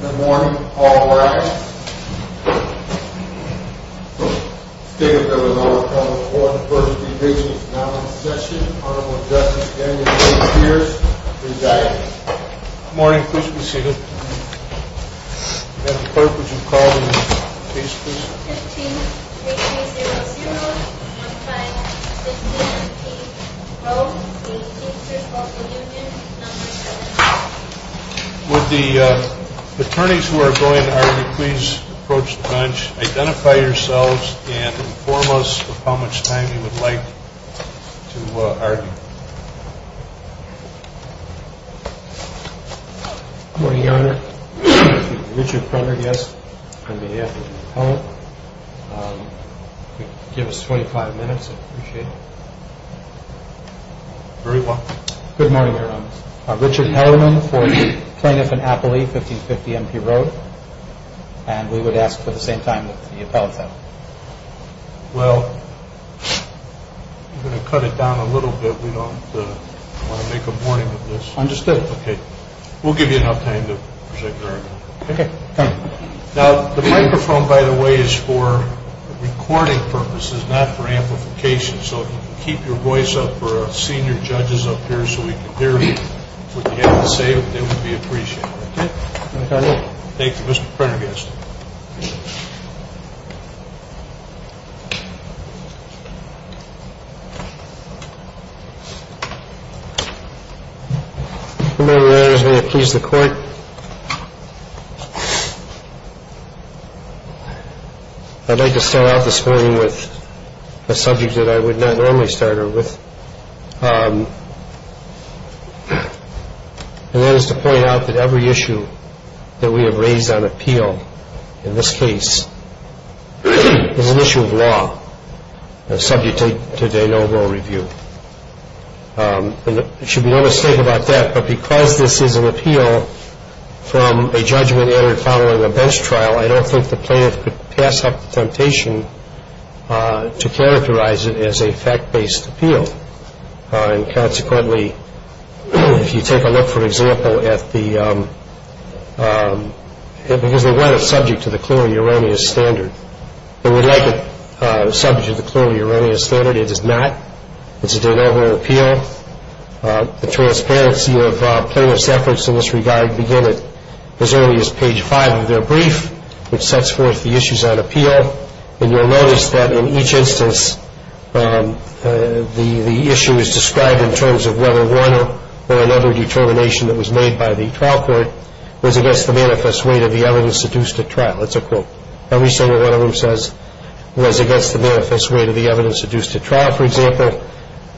Good morning. All rise. The State of Illinois Public Schools 1st Division is now in session. Honorable Justice Daniel J. Pierce presiding. Good morning. Please be seated. Would the attorneys who are going to argue please approach the bench, identify yourselves, and inform us of how much time you would like to argue. Good morning, Your Honor. Richard Kroner, yes, on behalf of the appellate. Give us 25 minutes, I'd appreciate it. Very well. Good morning, Your Honor. Richard Hellermann for the plaintiff in Appley, 1550 MP Road. And we would ask for the same time that the appellate had. Well, I'm going to cut it down a little bit. We don't want to make a morning of this. Understood. Okay. We'll give you enough time to present your argument. Okay. Now, the microphone, by the way, is for recording purposes, not for amplification. So if you can keep your voice up for our senior judges up here so we can hear what you have to say, it would be appreciated. Thank you, Mr. Kroner. Good morning, Your Honors. May it please the Court. I'd like to start off this morning with a subject that I would not normally start with, and that is to point out that every issue that we have raised on appeal in this case is an issue of law, and subject to de novo review. And there should be no mistake about that, but because this is an appeal from a judgment entered following a bench trial, I don't think the plaintiff could pass up the temptation to characterize it as a fact-based appeal. And consequently, if you take a look, for example, at the – because they want it subject to the clearly erroneous standard. They would like it subject to the clearly erroneous standard. It is not. It's a de novo appeal. The transparency of plaintiff's efforts in this regard begin at as early as page 5 of their brief, which sets forth the issues on appeal. And you'll notice that in each instance, the issue is described in terms of whether one or another determination that was made by the trial court was against the manifest weight of the evidence seduced at trial. That's a quote. Every single one of them says it was against the manifest weight of the evidence seduced at trial, for example.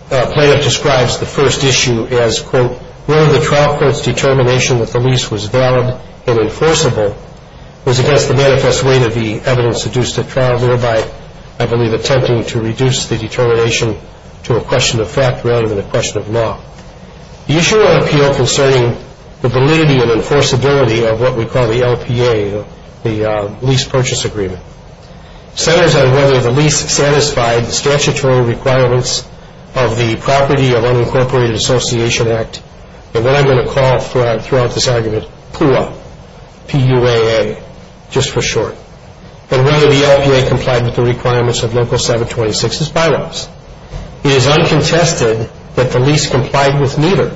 Plaintiff describes the first issue as, quote, where the trial court's determination that the lease was valid and enforceable was against the manifest weight of the evidence seduced at trial, thereby, I believe, attempting to reduce the determination to a question of fact rather than a question of law. The issue of appeal concerning the validity and enforceability of what we call the LPA, the lease purchase agreement, centers on whether the lease satisfied the statutory requirements of the Property of Unincorporated Association Act, and what I'm going to call throughout this argument, PUAA, P-U-A-A, just for short, and whether the LPA complied with the requirements of Local 726's bylaws. It is uncontested that the lease complied with neither.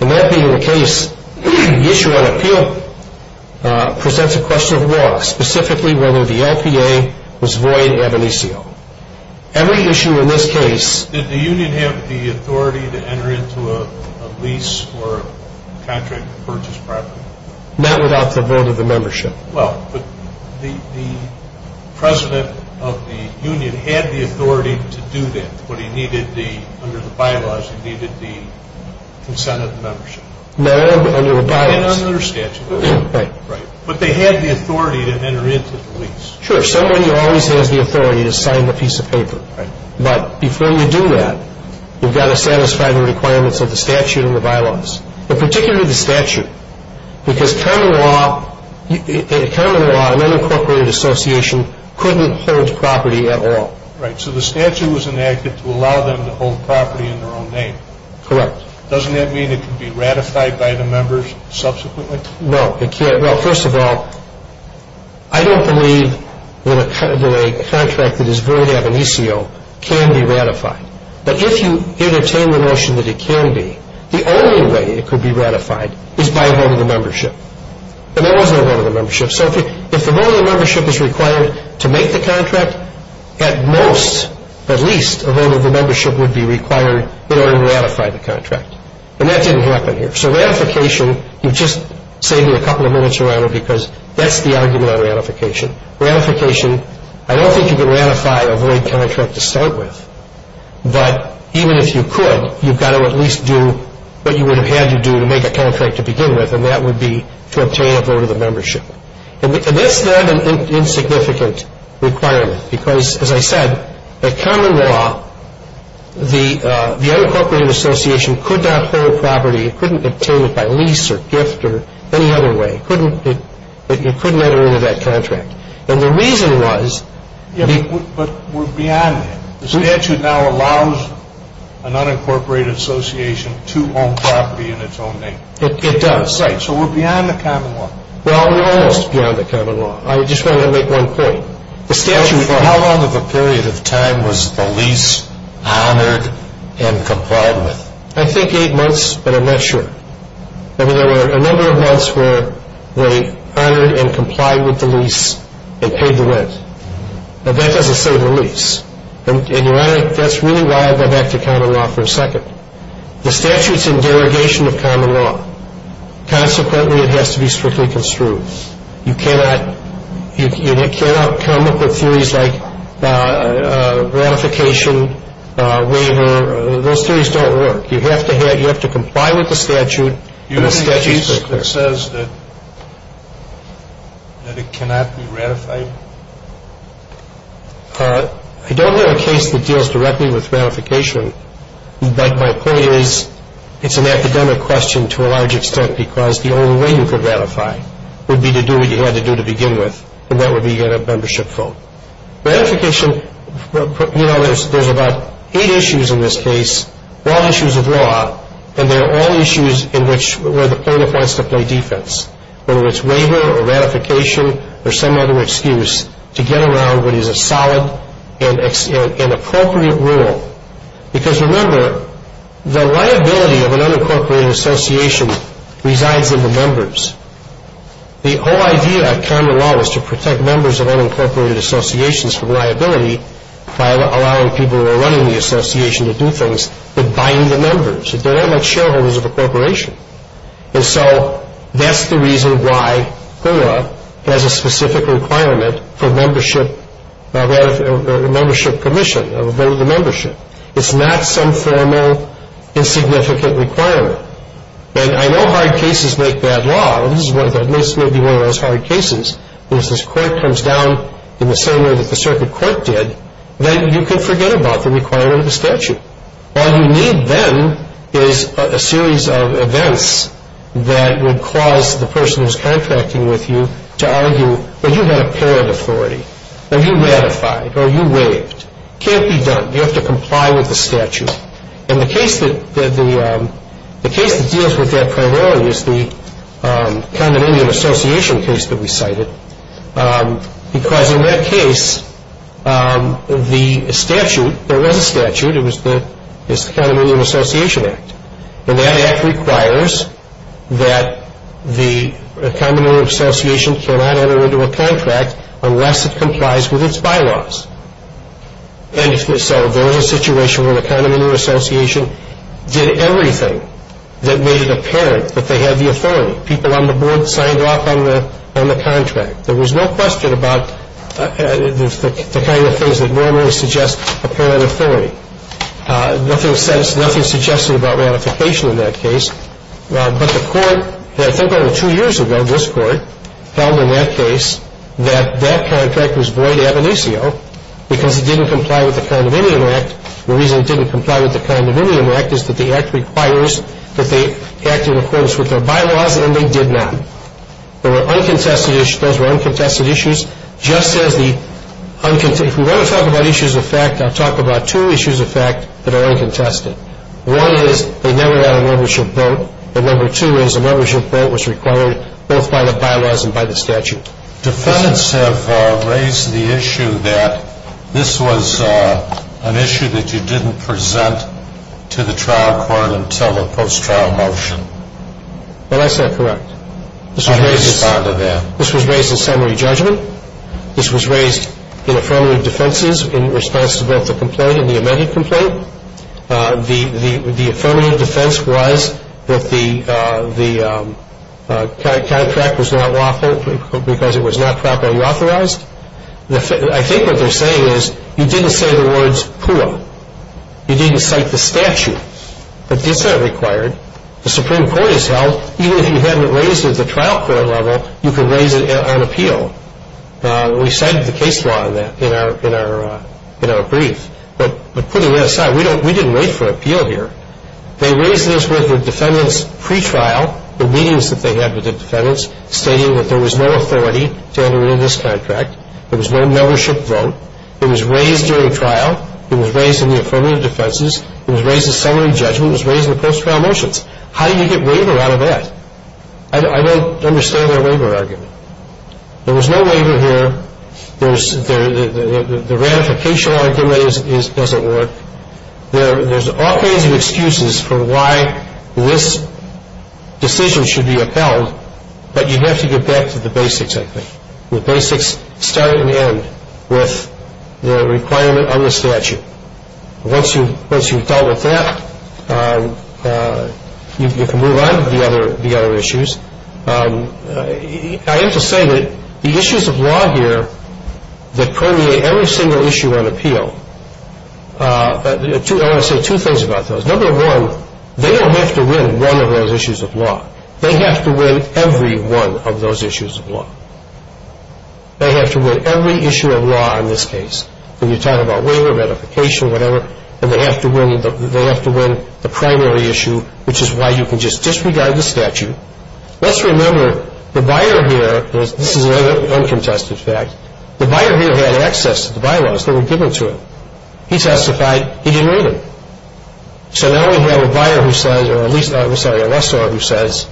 And that being the case, the issue on appeal presents a question of law, specifically whether the LPA was void ab initio. Every issue in this case... Did the union have the authority to enter into a lease for a contract purchase property? Not without the vote of the membership. Well, but the president of the union had the authority to do that, but he needed the, under the bylaws, he needed the consent of the membership. No, under a bias. And under statute. Right. Right. But they had the authority to enter into the lease. Sure. Somebody always has the authority to sign the piece of paper. Right. But before you do that, you've got to satisfy the requirements of the statute and the bylaws, and particularly the statute, because common law, in common law, an unincorporated association couldn't hold property at all. Right. So the statute was enacted to allow them to hold property in their own name. Correct. Doesn't that mean it can be ratified by the members subsequently? No, it can't. Well, first of all, I don't believe that a contract that is void ab initio can be ratified. But if you entertain the notion that it can be, the only way it could be ratified is by a vote of the membership. And there was no vote of the membership. So if the vote of the membership is required to make the contract, at most, at least, a vote of the membership would be required in order to ratify the contract. And that didn't happen here. So ratification, you're just saving a couple of minutes around it because that's the argument on ratification. Ratification, I don't think you can ratify a void contract to start with. But even if you could, you've got to at least do what you would have had to do to make a contract to begin with, and that would be to obtain a vote of the membership. And that's not an insignificant requirement because, as I said, at common law, the unincorporated association could not hold property. It couldn't obtain it by lease or gift or any other way. It couldn't enter into that contract. And the reason was the ‑‑ But we're beyond that. The statute now allows an unincorporated association to own property in its own name. It does. Right. So we're beyond the common law. Well, we're almost beyond the common law. I just want to make one point. For how long of a period of time was the lease honored and complied with? I think eight months, but I'm not sure. I mean, there were a number of months where they honored and complied with the lease and paid the rent. But that doesn't say the lease. And, Your Honor, that's really why I go back to common law for a second. The statute's in derogation of common law. Consequently, it has to be strictly construed. You cannot come up with theories like ratification, waiver. Those theories don't work. You have to comply with the statute and the statute's very clear. Do you have any case that says that it cannot be ratified? I don't have a case that deals directly with ratification, but my point is it's an academic question to a large extent because the only way you could ratify would be to do what you had to do to begin with, and that would be get a membership vote. Ratification, you know, there's about eight issues in this case, all issues of law, and they're all issues in which the plaintiff wants to play defense, whether it's waiver or ratification or some other excuse, to get around what is a solid and appropriate rule. Because, remember, the liability of an unincorporated association resides in the members. The whole idea of common law is to protect members of unincorporated associations from liability by allowing people who are running the association to do things with buying the members. They're not like shareholders of a corporation. And so that's the reason why GORA has a specific requirement for membership, a membership commission, a vote of membership. It's not some formal insignificant requirement. And I know hard cases make bad law, and this may be one of those hard cases, where if this court comes down in the same way that the circuit court did, then you can forget about the requirement of the statute. All you need then is a series of events that would cause the person who's contracting with you to argue, well, you had a paired authority, or you ratified, or you waived. It can't be done. You have to comply with the statute. And the case that deals with that primarily is the condominium association case that we cited. Because in that case, the statute, there was a statute. It was the Condominium Association Act. And that act requires that the condominium association cannot enter into a contract unless it complies with its bylaws. And so there was a situation where the condominium association did everything that made it apparent that they had the authority. People on the board signed off on the contract. There was no question about the kind of things that normally suggest a paired authority. Nothing suggested about ratification in that case. But the court, I think over two years ago, this court, held in that case that that contract was void ab initio because it didn't comply with the Condominium Act. The reason it didn't comply with the Condominium Act is that the act requires that they act in accordance with their bylaws, and they did not. Those were uncontested issues. If we want to talk about issues of fact, I'll talk about two issues of fact that are uncontested. One is they never had a membership vote. And number two is a membership vote was required both by the bylaws and by the statute. Defendants have raised the issue that this was an issue that you didn't present to the trial court until the post-trial motion. Well, that's not correct. How do you respond to that? This was raised in summary judgment. This was raised in affirmative defenses in response to both the complaint and the amended complaint. The affirmative defense was that the contract was not lawful because it was not properly authorized. I think what they're saying is you didn't say the words CUA. You didn't cite the statute. That's not required. The Supreme Court has held even if you haven't raised it at the trial court level, you can raise it on appeal. We cited the case law in our brief. But putting that aside, we didn't wait for appeal here. They raised this with the defendants pretrial, the meetings that they had with the defendants, stating that there was no authority to intervene in this contract. There was no membership vote. It was raised during trial. It was raised in the affirmative defenses. It was raised in summary judgment. It was raised in the post-trial motions. How do you get waiver out of that? I don't understand their waiver argument. There was no waiver here. The ratification argument doesn't work. There's all kinds of excuses for why this decision should be upheld, but you have to get back to the basics, I think. The basics start and end with the requirement on the statute. Once you've dealt with that, you can move on to the other issues. I have to say that the issues of law here that permeate every single issue on appeal, I want to say two things about those. Number one, they don't have to win one of those issues of law. They have to win every one of those issues of law. They have to win every issue of law in this case, whether you're talking about waiver, ratification, whatever, and they have to win the primary issue, which is why you can just disregard the statute. Let's remember the buyer here, this is an uncontested fact, the buyer here had access to the bylaws that were given to him. He testified he didn't read them. So now we have a buyer who says, or at least a lessor who says,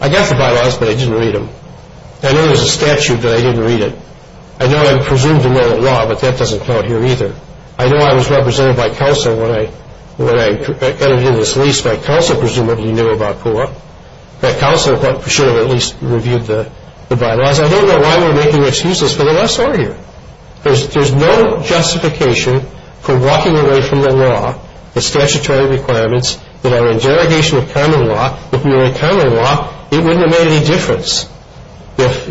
I got the bylaws, but I didn't read them. I know there's a statute, but I didn't read it. I know I'm presumed to know the law, but that doesn't count here either. I know I was represented by counsel when I entered into this lease. My counsel presumably knew about POA. My counsel should have at least reviewed the bylaws. I don't know why we're making excuses for the lessor here. There's no justification for walking away from the law, the statutory requirements, that are in derogation of common law. If we were in common law, it wouldn't have made any difference if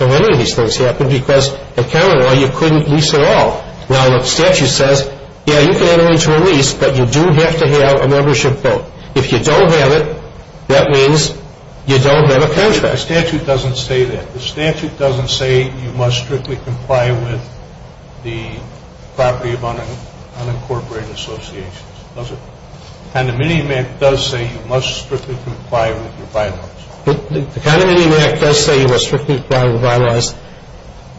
any of these things happened because in common law you couldn't lease at all. Now, the statute says, yeah, you can enter into a lease, but you do have to have a membership vote. If you don't have it, that means you don't have a contract. The statute doesn't say that. The statute doesn't say you must strictly comply with the property of unincorporated associations. Does it? The condominium act does say you must strictly comply with your bylaws. The condominium act does say you must strictly comply with the bylaws.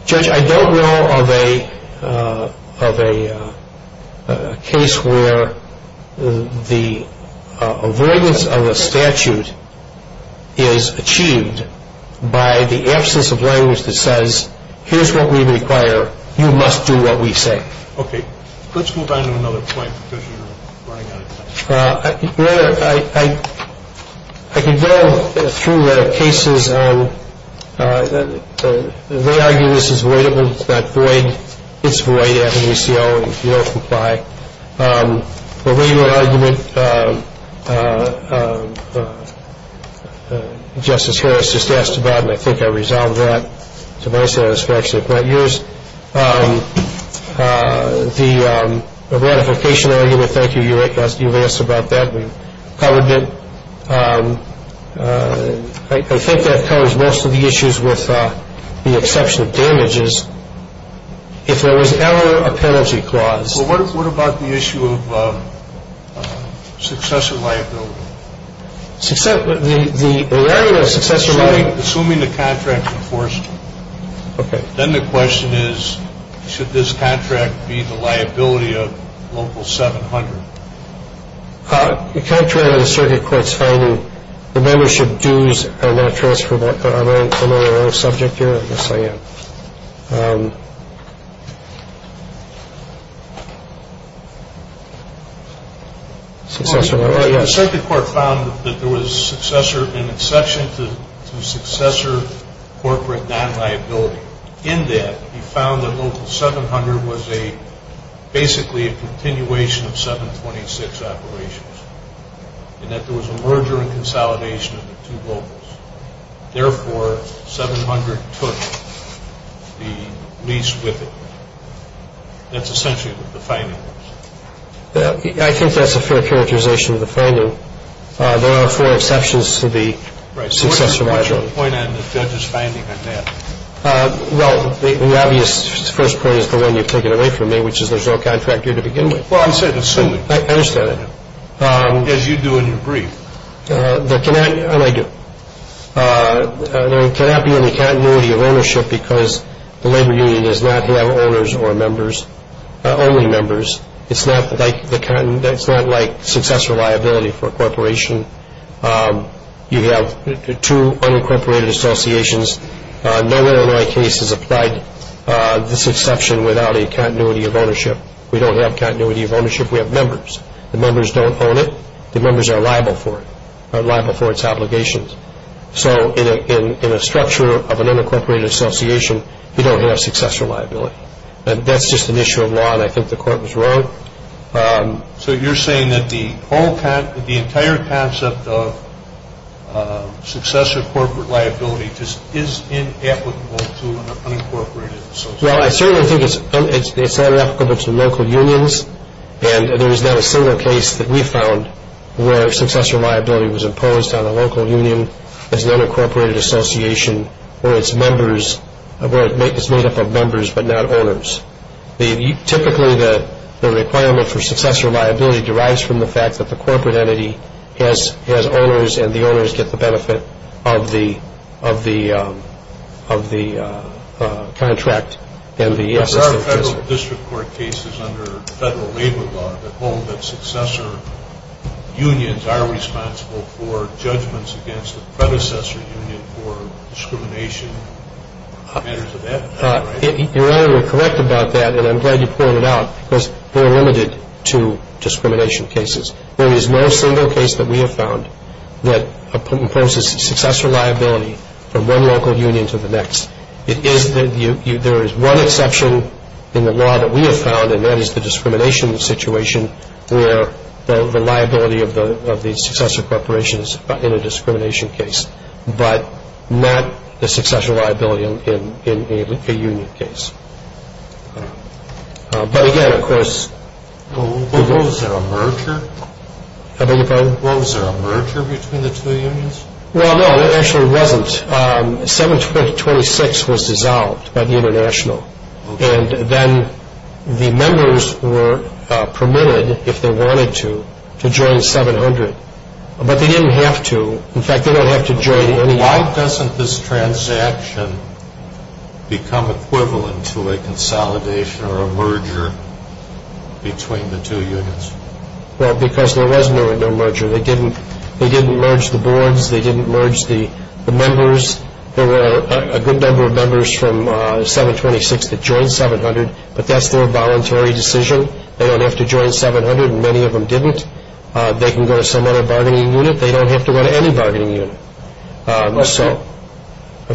Judge, I don't know of a case where the avoidance of a statute is achieved by the absence of language that says here's what we require, you must do what we say. Okay. Let's move on to another point because you're running out of time. Your Honor, I can go through the cases. They argue this is voidable. It's not void. It's void after we see all of you don't comply. The regular argument Justice Harris just asked about, and I think I resolved that to my satisfaction. But yours, the ratification argument, thank you. You've asked about that. We've covered it. I think that covers most of the issues with the exception of damages. If there was error, a penalty clause. Well, what about the issue of successor liability? The argument of successor liability. Assuming the contract's enforced. Okay. Then the question is, should this contract be the liability of local 700? The contract on the circuit court's finding, the membership dues are not transferable. Am I on the subject here? Yes, I am. The circuit court found that there was an exception to successor corporate non-liability. In that, he found that local 700 was basically a continuation of 726 operations. And that there was a merger and consolidation of the two locals. Therefore, 700 took the lease with it. That's essentially what the finding is. I think that's a fair characterization of the finding. There are four exceptions to the successor liability. What's your point on the judge's finding on that? Well, the obvious first point is the one you've taken away from me, which is there's no contract here to begin with. Well, I said assuming. I understand that. As you do in your brief. And I do. There cannot be any continuity of ownership because the labor union does not have owners or members, only members. It's not like successor liability for a corporation. You have two unincorporated associations. No one in my case has applied this exception without a continuity of ownership. We don't have continuity of ownership. We have members. The members don't own it. The members are liable for it, liable for its obligations. So in a structure of an unincorporated association, you don't have successor liability. That's just an issue of law, and I think the court was wrong. So you're saying that the entire concept of successor corporate liability just is inapplicable to an unincorporated association? Well, I certainly think it's not applicable to local unions. And there is not a single case that we found where successor liability was imposed on a local union as an unincorporated association where it's made up of members but not owners. Typically, the requirement for successor liability derives from the fact that the corporate entity has owners and the owners get the benefit of the contract. There are federal district court cases under federal labor law that hold that successor unions are responsible for judgments against the predecessor union for discrimination. It matters to that. You're only correct about that, and I'm glad you pointed it out, because we're limited to discrimination cases. There is no single case that we have found that imposes successor liability from one local union to the next. There is one exception in the law that we have found, and that is the discrimination situation where the liability of the successor corporation is in a discrimination case but not the successor liability in a union case. But again, of course... Was there a merger? I beg your pardon? Was there a merger between the two unions? Well, no, there actually wasn't. 726 was dissolved by the international, and then the members were permitted, if they wanted to, to join 700. But they didn't have to. In fact, they don't have to join any union. Why doesn't this transaction become equivalent to a consolidation or a merger between the two unions? Well, because there was no merger. They didn't merge the boards. They didn't merge the members. There were a good number of members from 726 that joined 700, but that's their voluntary decision. They don't have to join 700, and many of them didn't. They can go to some other bargaining unit. They don't have to go to any bargaining unit. I'm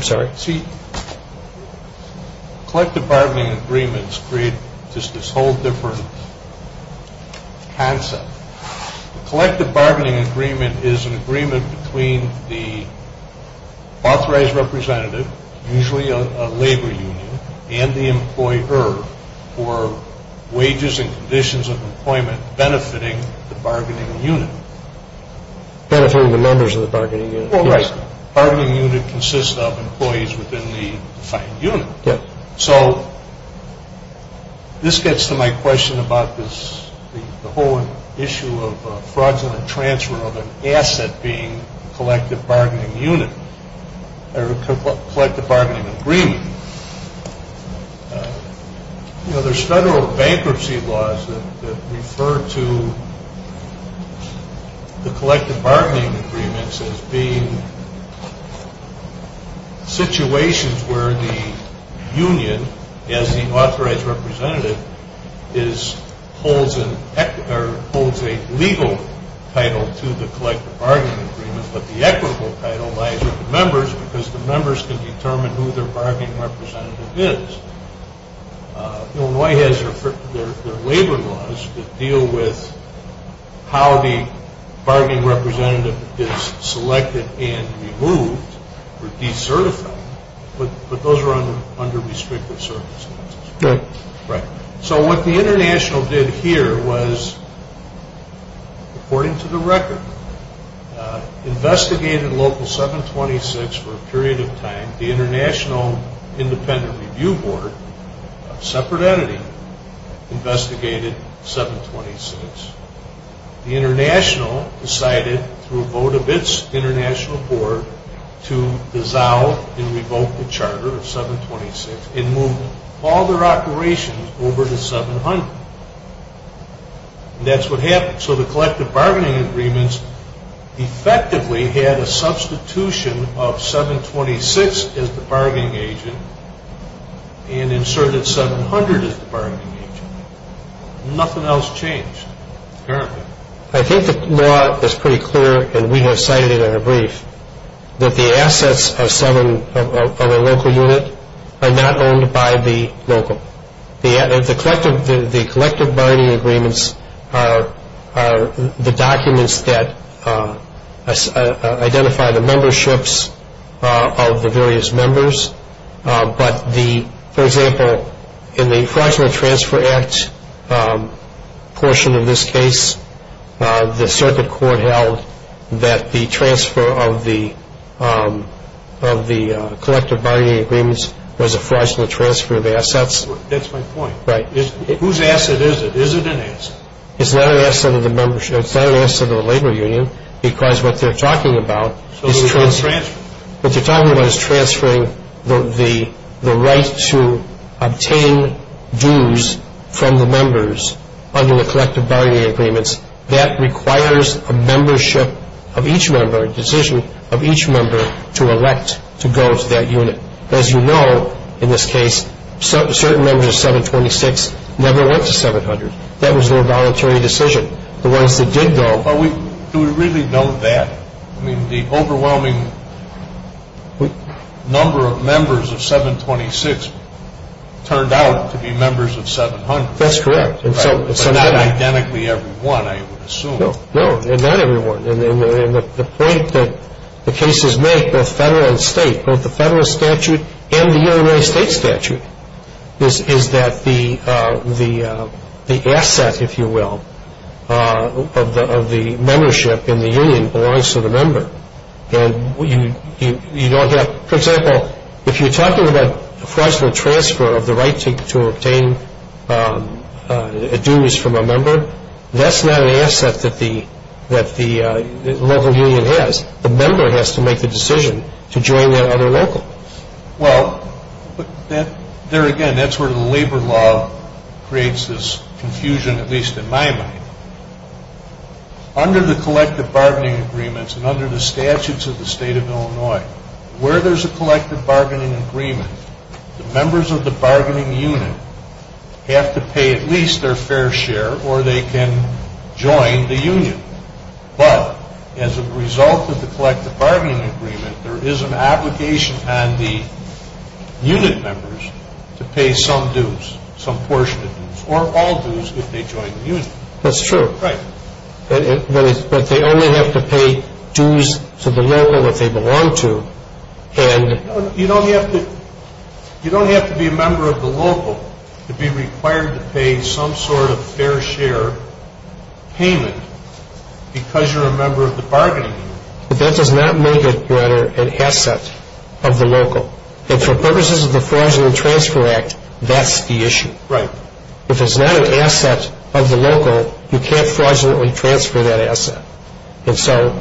sorry? See, collective bargaining agreements create just this whole different concept. A collective bargaining agreement is an agreement between the authorized representative, usually a labor union, and the employer for wages and conditions of employment, benefiting the bargaining unit. Benefiting the members of the bargaining unit. Well, right. The bargaining unit consists of employees within the defined unit. Yep. So this gets to my question about the whole issue of fraudulent transfer of an asset being a collective bargaining unit or a collective bargaining agreement. You know, there's federal bankruptcy laws that refer to the collective bargaining agreements as being situations where the union, as the authorized representative, holds a legal title to the collective bargaining agreements, but the equitable title lies with the members because the members can determine who their bargaining representative is. Illinois has their labor laws that deal with how the bargaining representative is selected and removed or decertified, but those are under restrictive circumstances. Right. Right. So what the International did here was, according to the record, investigated Local 726 for a period of time. The International Independent Review Board, a separate entity, investigated 726. The International decided, through a vote of its international board, to dissolve and revoke the charter of 726 and move all their operations over to 700. And that's what happened. So the collective bargaining agreements effectively had a substitution of 726 as the bargaining agent and inserted 700 as the bargaining agent. Nothing else changed. Apparently. I think the law is pretty clear, and we have cited it in a brief, that the assets of a local unit are not owned by the local. The collective bargaining agreements are the documents that identify the memberships of the various members. But, for example, in the Fraudulent Transfer Act portion of this case, the circuit court held that the transfer of the collective bargaining agreements was a fraudulent transfer of the assets. That's my point. Right. Whose asset is it? Is it an asset? It's not an asset of the membership. It's not an asset of the labor union because what they're talking about is transferring. What they're talking about is transferring the right to obtain dues from the members under the collective bargaining agreements. That requires a membership of each member, a decision of each member to elect to go to that unit. As you know, in this case, certain members of 726 never went to 700. That was their voluntary decision. The ones that did go. Do we really know that? I mean, the overwhelming number of members of 726 turned out to be members of 700. That's correct. But not identically everyone, I would assume. No, not everyone. And the point that the cases make, both federal and state, both the federal statute and the Illinois state statute, is that the asset, if you will, of the membership in the union belongs to the member. And you don't have, for example, if you're talking about a fraudulent transfer of the right to obtain dues from a member, that's not an asset that the local union has. The member has to make the decision to join that other local. Well, there again, that's where the labor law creates this confusion, at least in my mind. Under the collective bargaining agreements and under the statutes of the state of Illinois, where there's a collective bargaining agreement, the members of the bargaining unit have to pay at least their fair share or they can join the union. But as a result of the collective bargaining agreement, there is an obligation on the unit members to pay some dues, some portion of dues, or all dues if they join the union. That's true. Right. But they only have to pay dues to the local that they belong to. You don't have to be a member of the local to be required to pay some sort of fair share payment because you're a member of the bargaining unit. But that does not make it, Your Honor, an asset of the local. And for purposes of the Fraudulent Transfer Act, that's the issue. Right. If it's not an asset of the local, you can't fraudulently transfer that asset.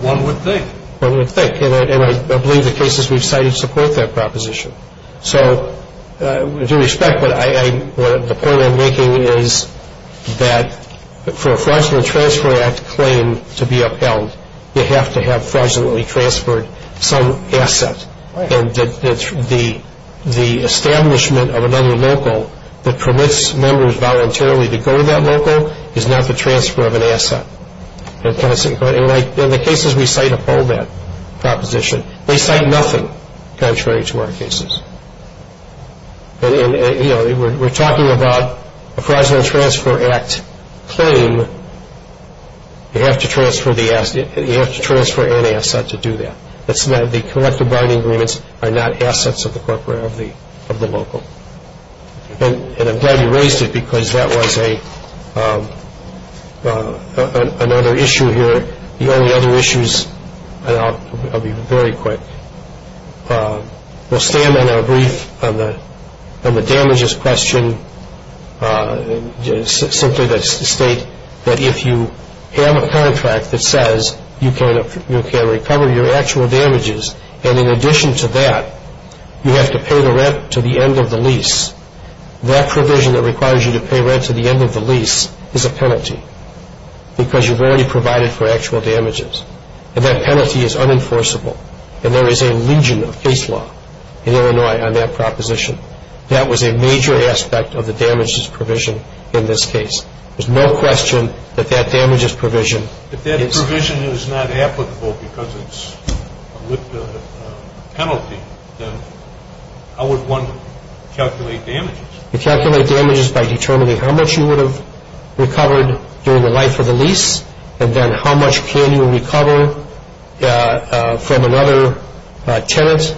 One would think. One would think. And I believe the cases we've cited support that proposition. So with due respect, the point I'm making is that for a Fraudulent Transfer Act claim to be upheld, you have to have fraudulently transferred some asset. Right. And the establishment of another local that permits members voluntarily to go to that local is not the transfer of an asset. And the cases we cite uphold that proposition. They cite nothing contrary to our cases. We're talking about a Fraudulent Transfer Act claim. You have to transfer an asset to do that. The collective bargaining agreements are not assets of the local. And I'm glad you raised it because that was another issue here. The only other issues, and I'll be very quick, we'll stand on our brief on the damages question simply to state that if you have a contract that says you can recover your actual damages, and in addition to that, you have to pay the rent to the end of the lease, that provision that requires you to pay rent to the end of the lease is a penalty because you've already provided for actual damages. And that penalty is unenforceable. And there is a legion of case law in Illinois on that proposition. That was a major aspect of the damages provision in this case. There's no question that that damages provision is... If that provision is not applicable because it's a penalty, then how would one calculate damages? You calculate damages by determining how much you would have recovered during the life of the lease and then how much can you recover from another tenant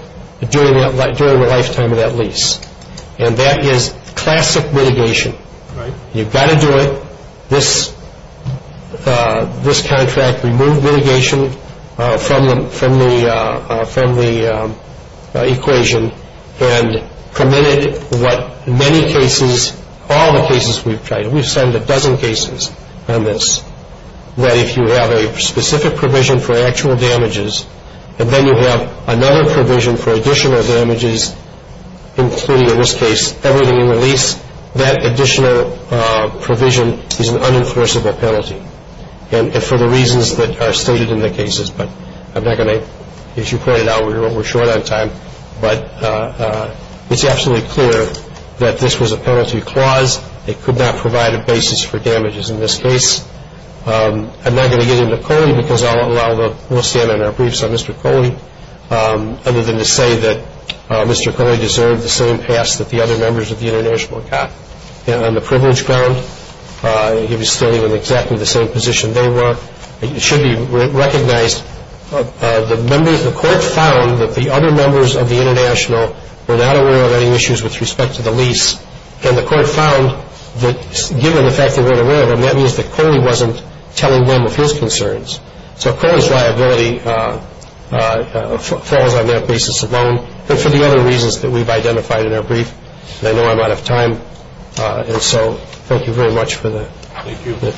during the lifetime of that lease. And that is classic mitigation. You've got to do it. This contract removed mitigation from the equation and permitted what many cases, all the cases we've tried, we've sent a dozen cases on this, that if you have a specific provision for actual damages and then you have another provision for additional damages, including in this case everything in the lease, that additional provision is an unenforceable penalty. And for the reasons that are stated in the cases, but I'm not going to... As you pointed out, we're short on time, but it's absolutely clear that this was a penalty clause. It could not provide a basis for damages in this case. I'm not going to get into Coley because I'll allow the... We'll stand on our briefs on Mr. Coley, other than to say that Mr. Coley deserved the same pass that the other members of the International got. On the privilege ground, he was still in exactly the same position they were. It should be recognized, the members of the court found that the other members of the International were not aware of any issues with respect to the lease, and the court found that given the fact they weren't aware of them, that means that Coley wasn't telling them of his concerns. So Coley's liability falls on that basis alone, but for the other reasons that we've identified in our brief, and I know I'm out of time, and so thank you very much for the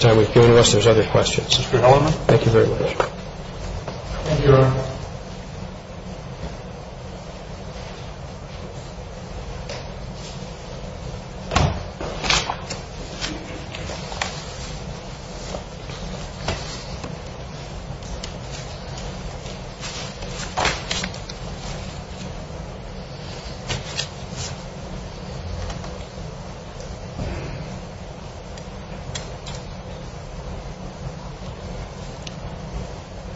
time you've given us. There's other questions. Mr. Hellerman. Thank you very much. Thank you, Your Honor. Thank you.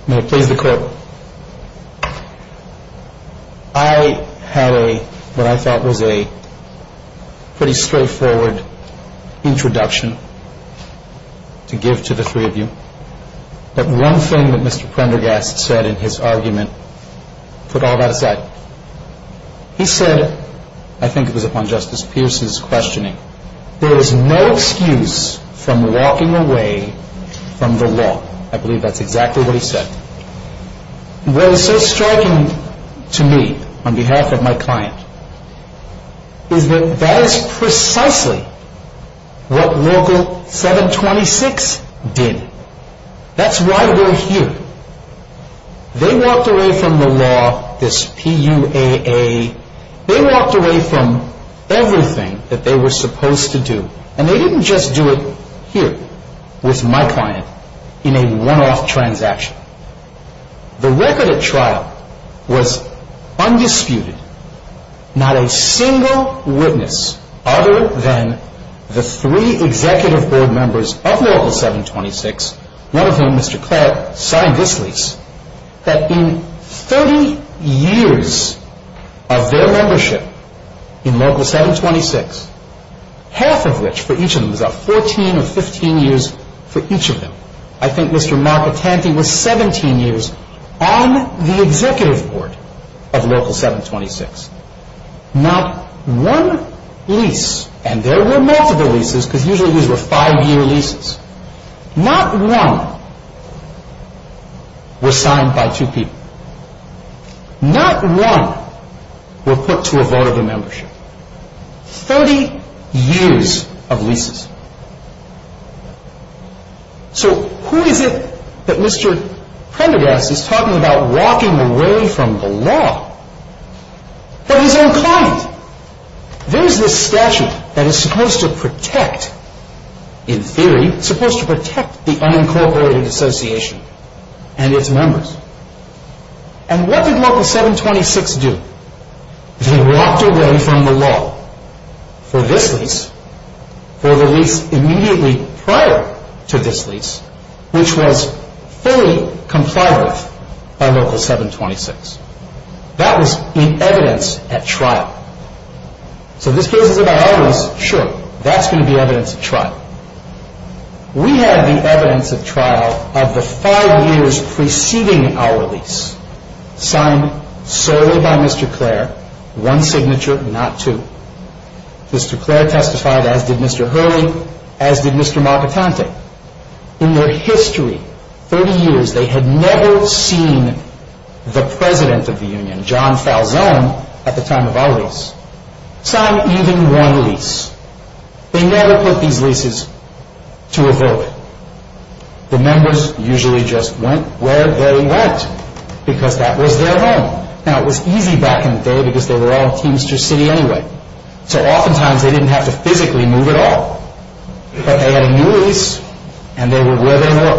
May it please the Court. I had what I thought was a pretty straightforward introduction to give to the three of you, but one thing that Mr. Prendergast said in his argument put all that aside. He said, I think it was upon Justice Pierce's questioning, there is no excuse from walking away from the law. I believe that's exactly what he said. What is so striking to me, on behalf of my client, is that that is precisely what Local 726 did. That's why we're here. They walked away from the law, this P-U-A-A. They walked away from everything that they were supposed to do, and they didn't just do it here with my client in a one-off transaction. The record at trial was undisputed. Not a single witness other than the three executive board members of Local 726, one of whom, Mr. Clark, signed this lease, that in 30 years of their membership in Local 726, half of which, for each of them, was about 14 or 15 years for each of them. I think Mr. Marcatanti was 17 years on the executive board of Local 726. Not one lease, and there were multiple leases because usually these were five-year leases, not one was signed by two people. Not one was put to a vote of a membership. Thirty years of leases. So who is it that Mr. Prendergast is talking about walking away from the law? But his own client. There's this statute that is supposed to protect, in theory, supposed to protect the unincorporated association and its members. And what did Local 726 do? They walked away from the law for this lease, for the lease immediately prior to this lease, which was fully complied with by Local 726. That was in evidence at trial. So this case is about our lease. Sure, that's going to be evidence at trial. We had the evidence at trial of the five years preceding our lease, signed solely by Mr. Clare, one signature, not two. Mr. Clare testified, as did Mr. Hurley, as did Mr. Marcatanti. In their history, 30 years, they had never seen the president of the union, John Falzone, at the time of our lease, sign even one lease. They never put these leases to a vote. The members usually just went where they went because that was their home. Now, it was easy back in the day because they were all in Teamster City anyway. So oftentimes they didn't have to physically move at all. But they had a new lease, and they were where they were.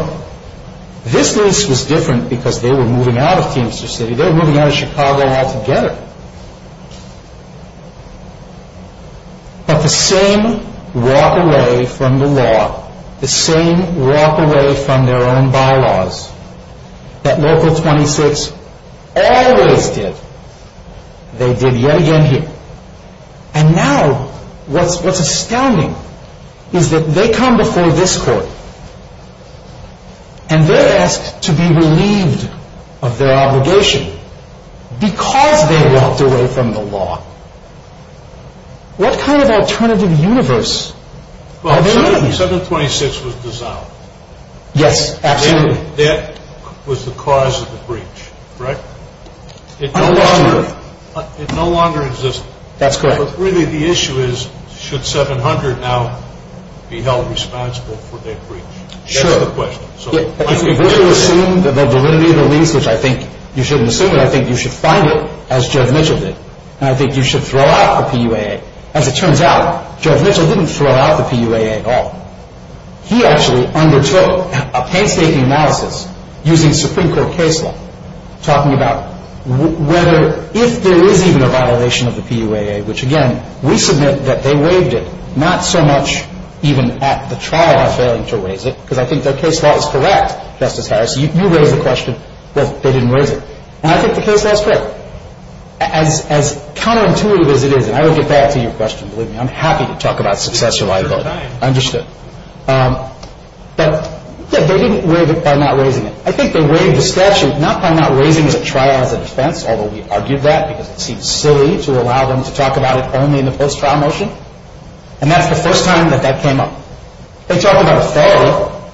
This lease was different because they were moving out of Teamster City. They were moving out of Chicago altogether. But the same walk away from the law, the same walk away from their own bylaws that Local 26 always did, they did yet again here. And now what's astounding is that they come before this court, and they're asked to be relieved of their obligation because they walked away from the law. What kind of alternative universe are they in? Well, 726 was dissolved. Yes, absolutely. That was the cause of the breach, right? It no longer existed. That's correct. But really the issue is, should 700 now be held responsible for their breach? Sure. That's the question. If we were to assume that they'll deliver you the lease, which I think you shouldn't assume it, I think you should find it, as Jared Mitchell did. And I think you should throw out the PUAA. As it turns out, Jared Mitchell didn't throw out the PUAA at all. He actually undertook a painstaking analysis using Supreme Court case law, talking about whether if there is even a violation of the PUAA, which again we submit that they waived it, not so much even at the trial of failing to raise it because I think their case law is correct, Justice Harris. You raised the question, well, they didn't raise it. And I think the case law is correct. As counterintuitive as it is, and I will get back to your question, believe me, I'm happy to talk about success or liability. Understood. But they didn't waive it by not raising it. I think they waived the statute not by not raising the trial as a defense, although we argued that because it seemed silly to allow them to talk about it only in the post-trial motion, and that's the first time that that came up. They talked about a failure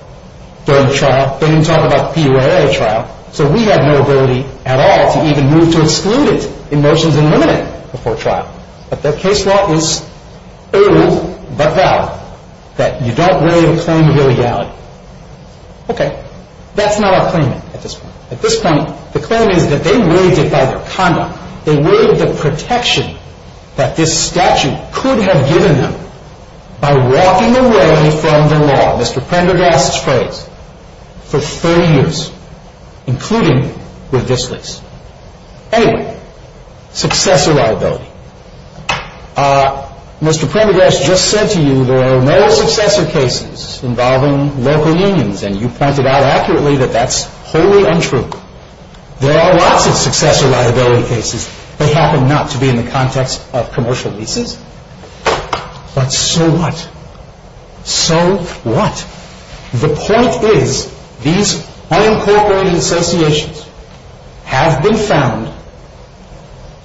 during the trial. They didn't talk about the PUAA trial. So we have no ability at all to even move to exclude it in motions and limit it before trial. But their case law is old, but valid, that you don't waive a claim of illegality. Okay. That's not our claim at this point. At this point, the claim is that they waived it by their conduct. They waived the protection that this statute could have given them by walking away from the law, Mr. Prendergast's phrase, for 30 years, including with this lease. Anyway, success or liability. Mr. Prendergast just said to you there are no successor cases involving local unions, and you pointed out accurately that that's wholly untrue. There are lots of successor liability cases that happen not to be in the context of commercial leases. But so what? So what? The point is these unincorporated associations have been found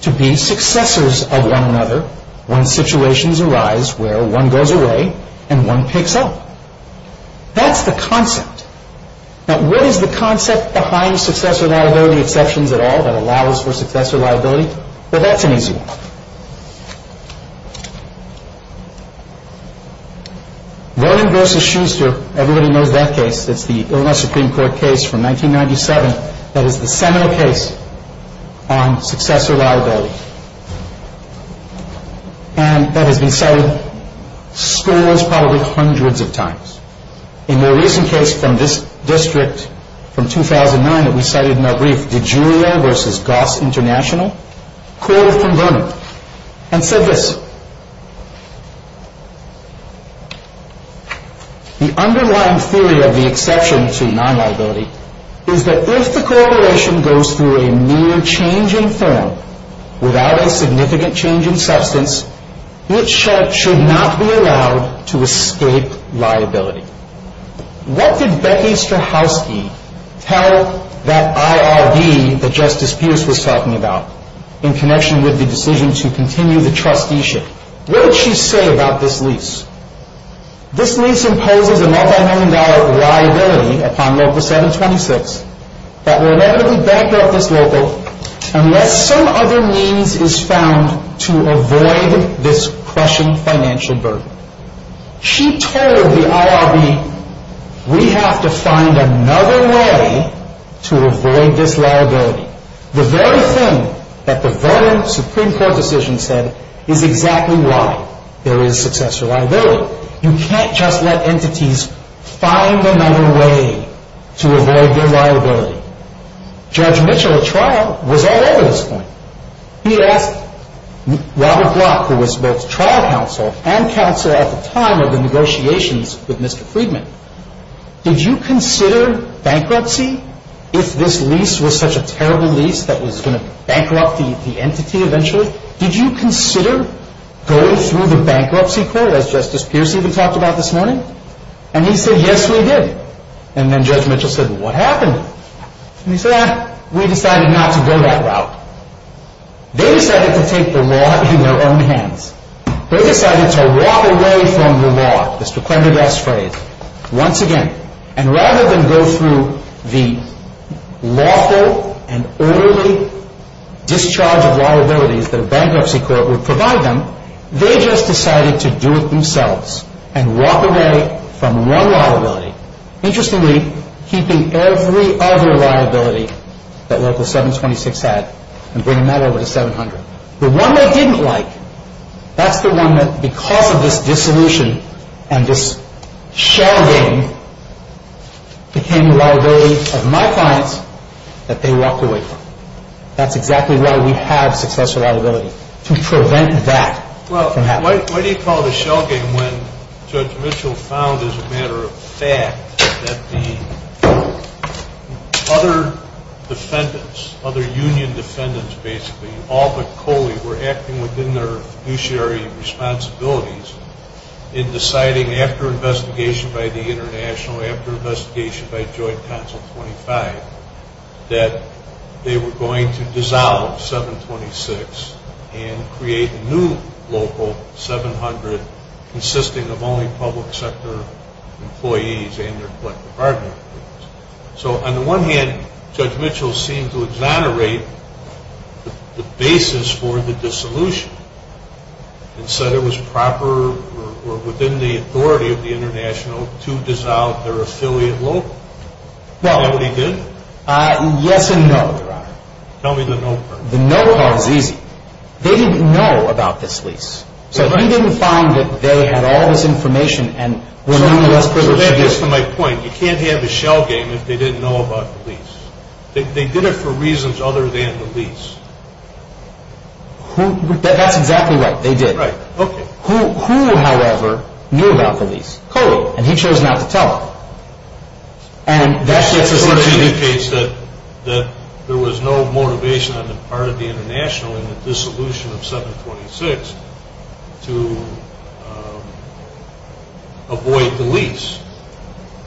to be successors of one another when situations arise where one goes away and one picks up. That's the concept. Now, what is the concept behind successor liability exceptions at all that allows for successor liability? Well, that's an easy one. Vernon v. Schuster, everybody knows that case. It's the Illinois Supreme Court case from 1997 that is the seminal case on successor liability. And that has been cited, scores, probably hundreds of times. A more recent case from this district from 2009 that we cited in our brief, DiGiulio v. Goss International, court of Vernon, and said this. The underlying theory of the exception to non-liability is that if the corporation goes through a mere change in form without a significant change in substance, it should not be allowed to escape liability. What did Becky Strahovski tell that IRB that Justice Pierce was talking about in connection with the decision to continue the trusteeship? What did she say about this lease? This lease imposes a multi-million dollar liability upon Local 726 that will never be backed off this local unless some other means is found to avoid this crushing financial burden. She told the IRB, we have to find another way to avoid this liability. The very thing that the Vernon Supreme Court decision said is exactly why there is successor liability. You can't just let entities find another way to avoid their liability. Judge Mitchell, at trial, was all over this point. He asked Robert Glock, who was both trial counsel and counsel at the time of the negotiations with Mr. Friedman, did you consider bankruptcy if this lease was such a terrible lease that was going to bankrupt the entity eventually? He said, did you consider going through the bankruptcy court, as Justice Pierce even talked about this morning? And he said, yes, we did. And then Judge Mitchell said, well, what happened? And he said, we decided not to go that route. They decided to take the law into their own hands. They decided to walk away from the law, the stupendous phrase, once again. And rather than go through the lawful and orderly discharge of liabilities that a bankruptcy court would provide them, they just decided to do it themselves and walk away from one liability. Interestingly, keeping every other liability that Local 726 had and bringing that over to 700. The one they didn't like, that's the one that, because of this dissolution and this shell game, became the liability of my clients that they walked away from. That's exactly why we have successful liability, to prevent that from happening. Well, why do you call it a shell game when Judge Mitchell found as a matter of fact that the other defendants, other union defendants, basically, all but Coley, were acting within their fiduciary responsibilities in deciding, after investigation by the International, after investigation by Joint Council 25, that they were going to dissolve 726 and create a new Local 700, consisting of only public sector employees and their public department employees. So, on the one hand, Judge Mitchell seemed to exonerate the basis for the dissolution and said it was proper or within the authority of the International to dissolve their affiliate Local. Is that what he did? Yes and no, Your Honor. Tell me the no part. The no part is easy. They didn't know about this lease. So, he didn't find that they had all this information and were none the less privileged. So, that gets to my point. You can't have a shell game if they didn't know about the lease. They did it for reasons other than the lease. That's exactly right. They did. Right. Okay. Who, however, knew about the lease? Coley. Coley. And he chose not to tell. And that sort of indicates that there was no motivation on the part of the International in the dissolution of 726 to avoid the lease.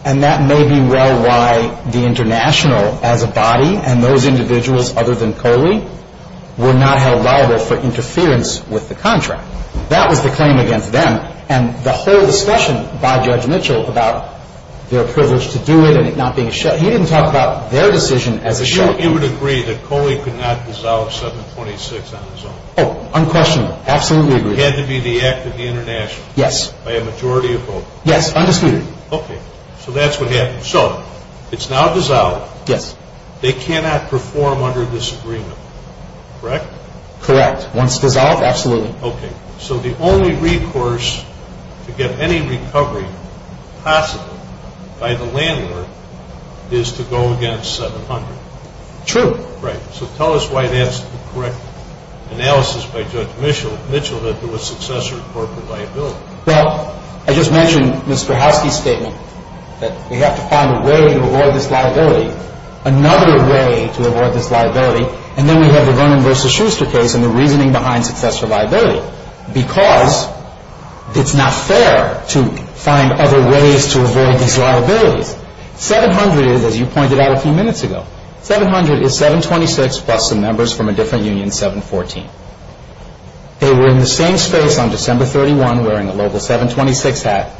And that may be well why the International as a body and those individuals other than Coley were not held liable for interference with the contract. That was the claim against them. And the whole discussion by Judge Mitchell about their privilege to do it and it not being a shell, He would agree that Coley could not dissolve 726 on his own. Unquestionably. Absolutely agree. It had to be the act of the International. Yes. By a majority of vote. Yes. Undisputed. Okay. So, that's what happened. So, it's now dissolved. Yes. They cannot perform under this agreement. Correct? Correct. Once dissolved, absolutely. Okay. So, the only recourse to get any recovery possible by the landlord is to go against 700. True. Right. So, tell us why that's the correct analysis by Judge Mitchell that there was successor corporate liability. Well, I just mentioned Mr. Housky's statement that we have to find a way to avoid this liability. Another way to avoid this liability. And then we have the Vernon v. Schuster case and the reasoning behind successor liability. Because it's not fair to find other ways to avoid these liabilities. 700 is, as you pointed out a few minutes ago, 700 is 726 plus some members from a different union, 714. They were in the same space on December 31 wearing a local 726 hat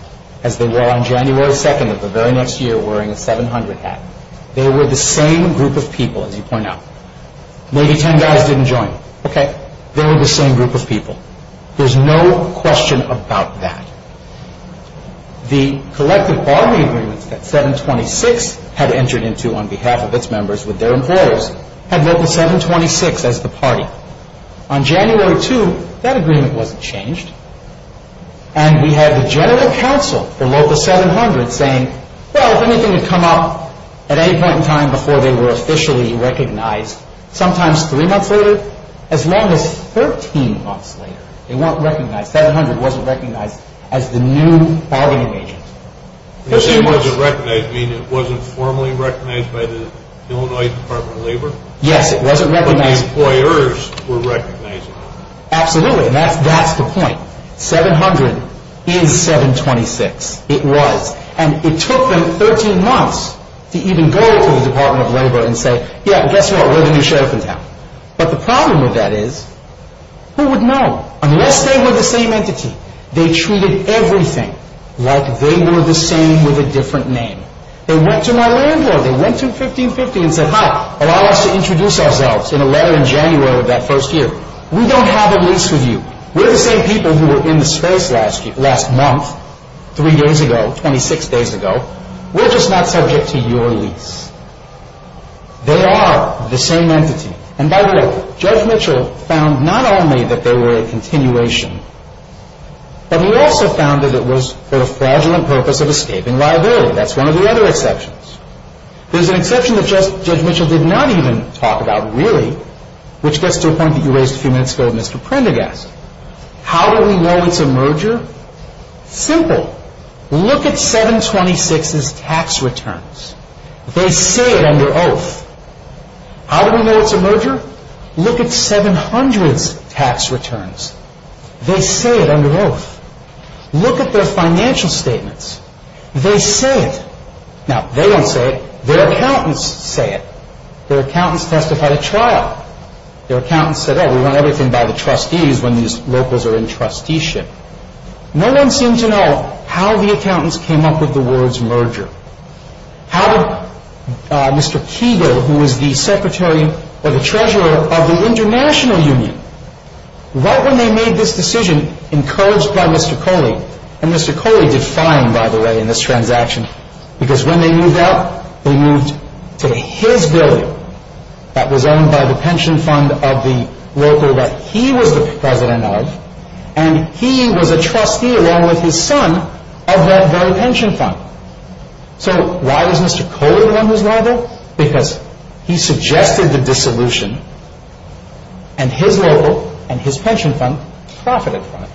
as they were on January 2nd of the very next year wearing a 700 hat. They were the same group of people, as you point out. Maybe 10 guys didn't join. Okay. They were the same group of people. There's no question about that. The collective bargaining agreements that 726 had entered into on behalf of its members with their employers had local 726 as the party. On January 2nd, that agreement wasn't changed. And we had the general counsel for local 700 saying, well, if anything had come up at any point in time before they were officially recognized, sometimes three months later, as long as 13 months later, they weren't recognized. 700 wasn't recognized as the new bargaining agent. When you say it wasn't recognized, you mean it wasn't formally recognized by the Illinois Department of Labor? Yes, it wasn't recognized. But the employers were recognizing it. Absolutely. That's the point. 700 is 726. It was. And it took them 13 months to even go to the Department of Labor and say, yeah, guess what? We're the new sheriff in town. But the problem with that is, who would know? Unless they were the same entity. They treated everything like they were the same with a different name. They went to my landlord. They went to 1550 and said, hi, allow us to introduce ourselves in a letter in January of that first year. We don't have a lease with you. We're the same people who were in the space last month, three days ago, 26 days ago. We're just not subject to your lease. They are the same entity. And by the way, Judge Mitchell found not only that they were a continuation, but he also found that it was for the fraudulent purpose of escaping liability. That's one of the other exceptions. There's an exception that Judge Mitchell did not even talk about really, which gets to a point that you raised a few minutes ago with Mr. Prendergast. How do we know it's a merger? Simple. Look at 726's tax returns. They say it under oath. How do we know it's a merger? Look at 700's tax returns. They say it under oath. Look at their financial statements. They say it. Now, they don't say it. Their accountants say it. Their accountants testified at trial. Their accountants said, oh, we want everything by the trustees when these locals are in trusteeship. No one seemed to know how the accountants came up with the words merger. How did Mr. Keagle, who was the secretary or the treasurer of the international union, right when they made this decision, encouraged by Mr. Coley, and Mr. Coley did fine, by the way, in this transaction, because when they moved out, they moved to his building that was owned by the pension fund of the local that he was the president of, and he was a trustee along with his son of that very pension fund. So why was Mr. Coley the one who's liable? Because he suggested the dissolution, and his local and his pension fund profited from it.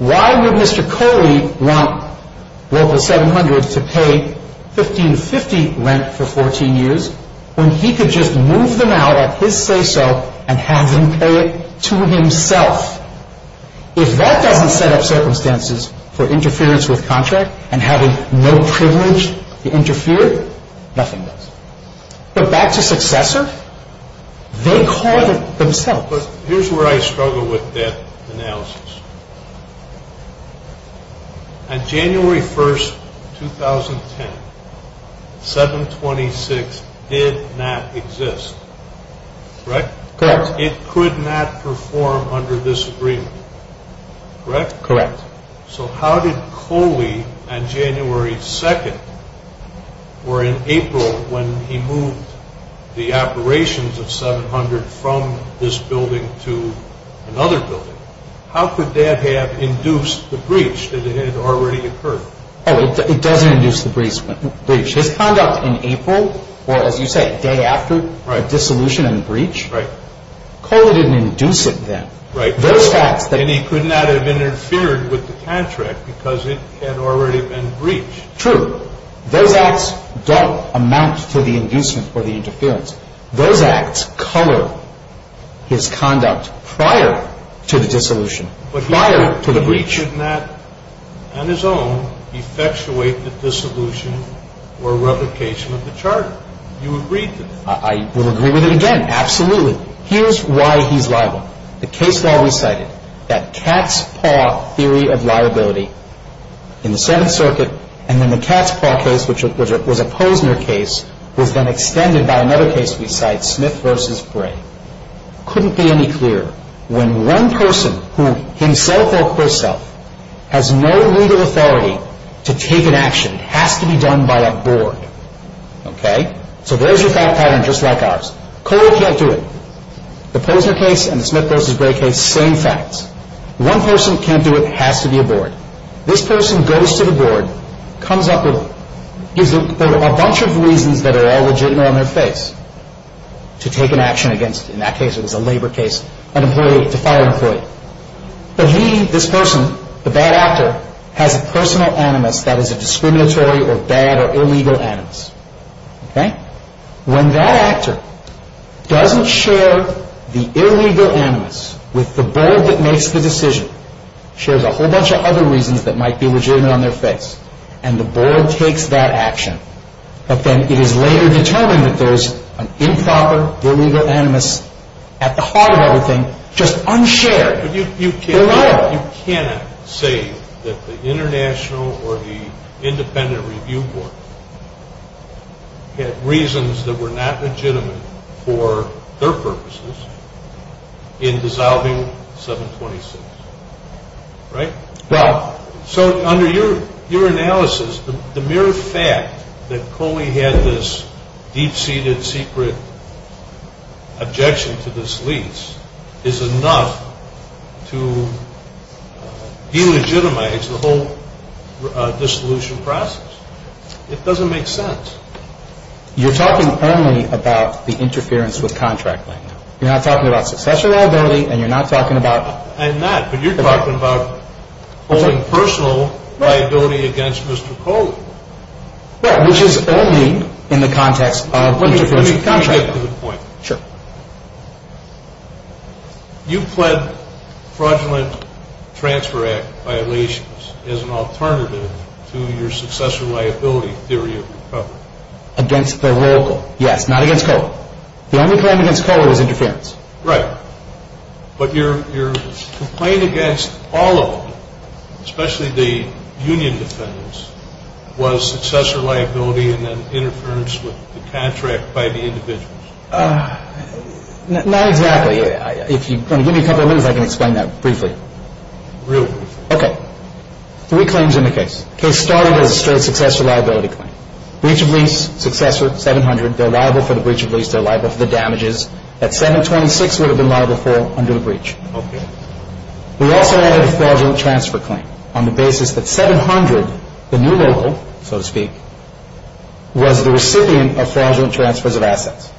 Why would Mr. Coley want local 700 to pay 1550 rent for 14 years when he could just move them out at his say-so and have them pay it to himself? If that doesn't set up circumstances for interference with contract and having no privilege to interfere, nothing does. But back to successor, they called it themselves. But here's where I struggle with that analysis. On January 1st, 2010, 726 did not exist. Correct? Correct. It could not perform under this agreement. Correct? Correct. So how did Coley, on January 2nd, or in April, when he moved the operations of 700 from this building to another building, how could that have induced the breach that had already occurred? Oh, it doesn't induce the breach. His conduct in April, or as you said, the day after the dissolution and the breach, Coley didn't induce it then. Right. And he could not have interfered with the contract because it had already been breached. True. Those acts don't amount to the inducement or the interference. Those acts color his conduct prior to the dissolution, prior to the breach. But he could not, on his own, effectuate the dissolution or replication of the charter. You agreed to that. I will agree with it again, absolutely. Here's why he's liable. The case law we cited, that cat's paw theory of liability in the Seventh Circuit, and then the cat's paw case, which was a Posner case, was then extended by another case we cite, Smith v. Bray. It couldn't be any clearer. When one person, himself or herself, has no legal authority to take an action, it has to be done by a board. Okay? So there's your thought pattern, just like ours. Coley can't do it. The Posner case and the Smith v. Bray case, same facts. One person can't do it. It has to be a board. This person goes to the board, comes up with a bunch of reasons that are all legitimate on their face to take an action against, in that case it was a labor case, an employee, a fire employee. But he, this person, the bad actor, has a personal animus that is a discriminatory or bad or illegal animus. Okay? When that actor doesn't share the illegal animus with the board that makes the decision, shares a whole bunch of other reasons that might be legitimate on their face, and the board takes that action, but then it is later determined that there's an improper, illegal animus at the heart of everything, just unshared. You cannot say that the International or the Independent Review Board had reasons that were not legitimate for their purposes in dissolving 726. Right? Right. So under your analysis, the mere fact that Coley had this deep-seated, secret objection to this lease is enough to delegitimize the whole dissolution process. It doesn't make sense. You're talking only about the interference with contract land. You're not talking about succession liability, and you're not talking about... Personal liability against Mr. Coley. Right, which is only in the context of interference with contract land. Let me get to the point. Sure. You pled fraudulent transfer act violations as an alternative to your successor liability theory of recovery. Against the local. Yes, not against Coley. The only claim against Coley was interference. Right. But your complaint against all of them, especially the union defendants, was successor liability and then interference with the contract by the individuals. Not exactly. If you want to give me a couple of minutes, I can explain that briefly. Real briefly. Okay. Three claims in the case. Case started as a straight successor liability claim. Breach of lease, successor, 700. They're liable for the breach of lease. They're liable for the damages. That 726 would have been liable for under the breach. Okay. We also added a fraudulent transfer claim on the basis that 700, the new local, so to speak, was the recipient of fraudulent transfers of assets.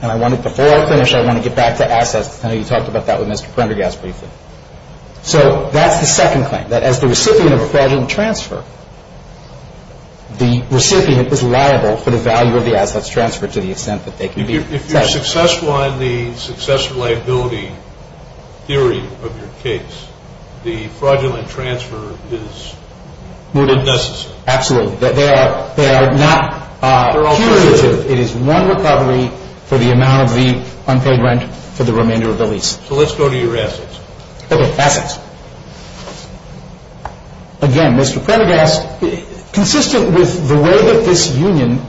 And I want to, before I finish, I want to get back to assets. I know you talked about that with Mr. Prendergast briefly. So that's the second claim, that as the recipient of a fraudulent transfer, the recipient is liable for the value of the assets transferred to the extent that they can be... If you're successful in the successor liability theory of your case, the fraudulent transfer is necessary. Absolutely. They are not cumulative. It is one recovery for the amount of the unpaid rent for the remainder of the lease. So let's go to your assets. Okay. Assets. Again, Mr. Prendergast, consistent with the way that this union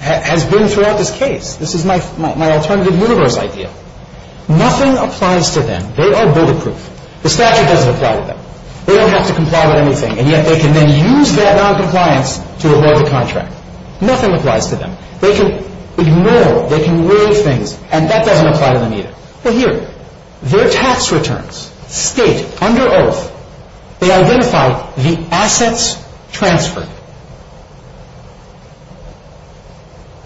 has been throughout this case, this is my alternative universe idea, nothing applies to them. They are bulletproof. The statute doesn't apply to them. They don't have to comply with anything, and yet they can then use that noncompliance to avoid the contract. Nothing applies to them. They can ignore, they can waive things, and that doesn't apply to them either. Well, here. Their tax returns state, under oath, they identify the assets transferred.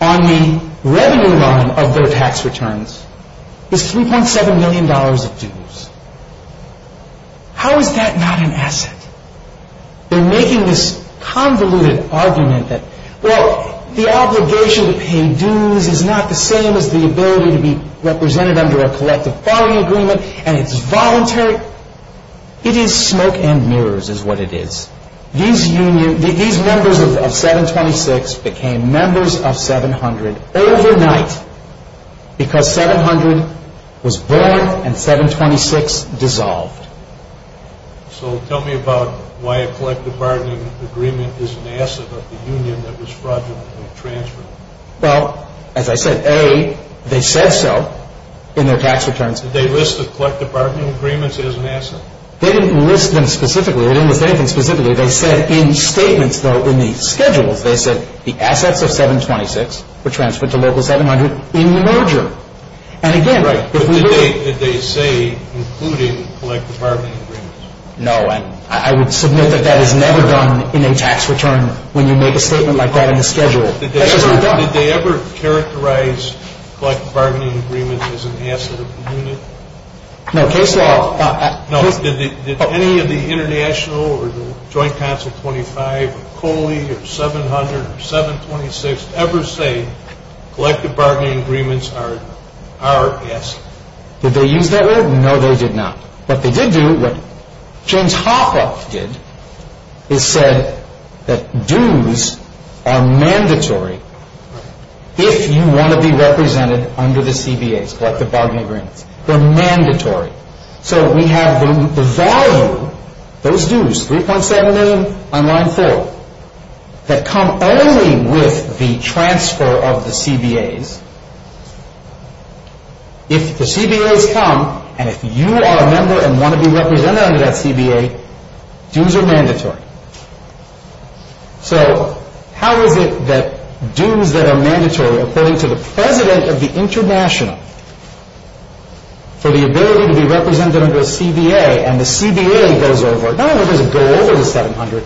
On the revenue line of their tax returns is $3.7 million of dues. How is that not an asset? They're making this convoluted argument that, Well, the obligation to pay dues is not the same as the ability to be represented under a collective bargaining agreement, and it's voluntary. It is smoke and mirrors is what it is. These members of 726 became members of 700 overnight because 700 was born and 726 dissolved. So tell me about why a collective bargaining agreement is an asset of the union that was fraudulently transferred. Well, as I said, A, they said so in their tax returns. Did they list the collective bargaining agreements as an asset? They didn't list them specifically. They didn't list anything specifically. They said in statements, though, in the schedules, they said the assets of 726 were transferred to local 700 in the merger. Did they say including collective bargaining agreements? No. I would submit that that is never done in a tax return when you make a statement like that in the schedule. That's never done. Did they ever characterize collective bargaining agreements as an asset of the union? No. Case law. Did any of the international or the Joint Council 25 or COLE or 700 or 726 ever say collective bargaining agreements are an asset? Did they use that word? No, they did not. What they did do, what James Hoffa did, is said that dues are mandatory if you want to be represented under the CBAs, collective bargaining agreements. They're mandatory. So we have the volume, those dues, 3.7 million on line four, that come only with the transfer of the CBAs. If the CBAs come and if you are a member and want to be represented under that CBA, dues are mandatory. So how is it that dues that are mandatory, according to the president of the international, for the ability to be represented under the CBA and the CBA goes over, not only does it go over the 700,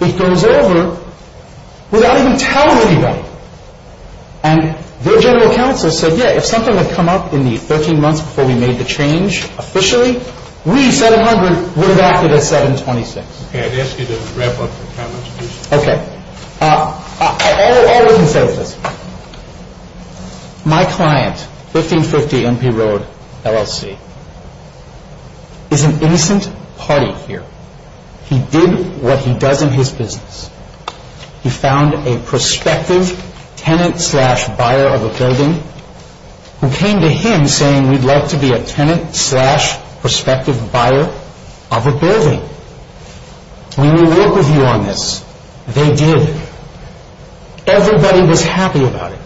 it goes over without even telling anybody. And their general counsel said, yeah, if something had come up in the 13 months before we made the change officially, we, 700, would have acted as 726. Okay, I'd ask you to wrap up your comments, please. Okay. All of them say this. My client, 1550 MP Road, LLC, is an innocent party here. He did what he does in his business. He found a prospective tenant slash buyer of a building who came to him saying, we'd like to be a tenant slash prospective buyer of a building. We will work with you on this. They did. Everybody was happy about it.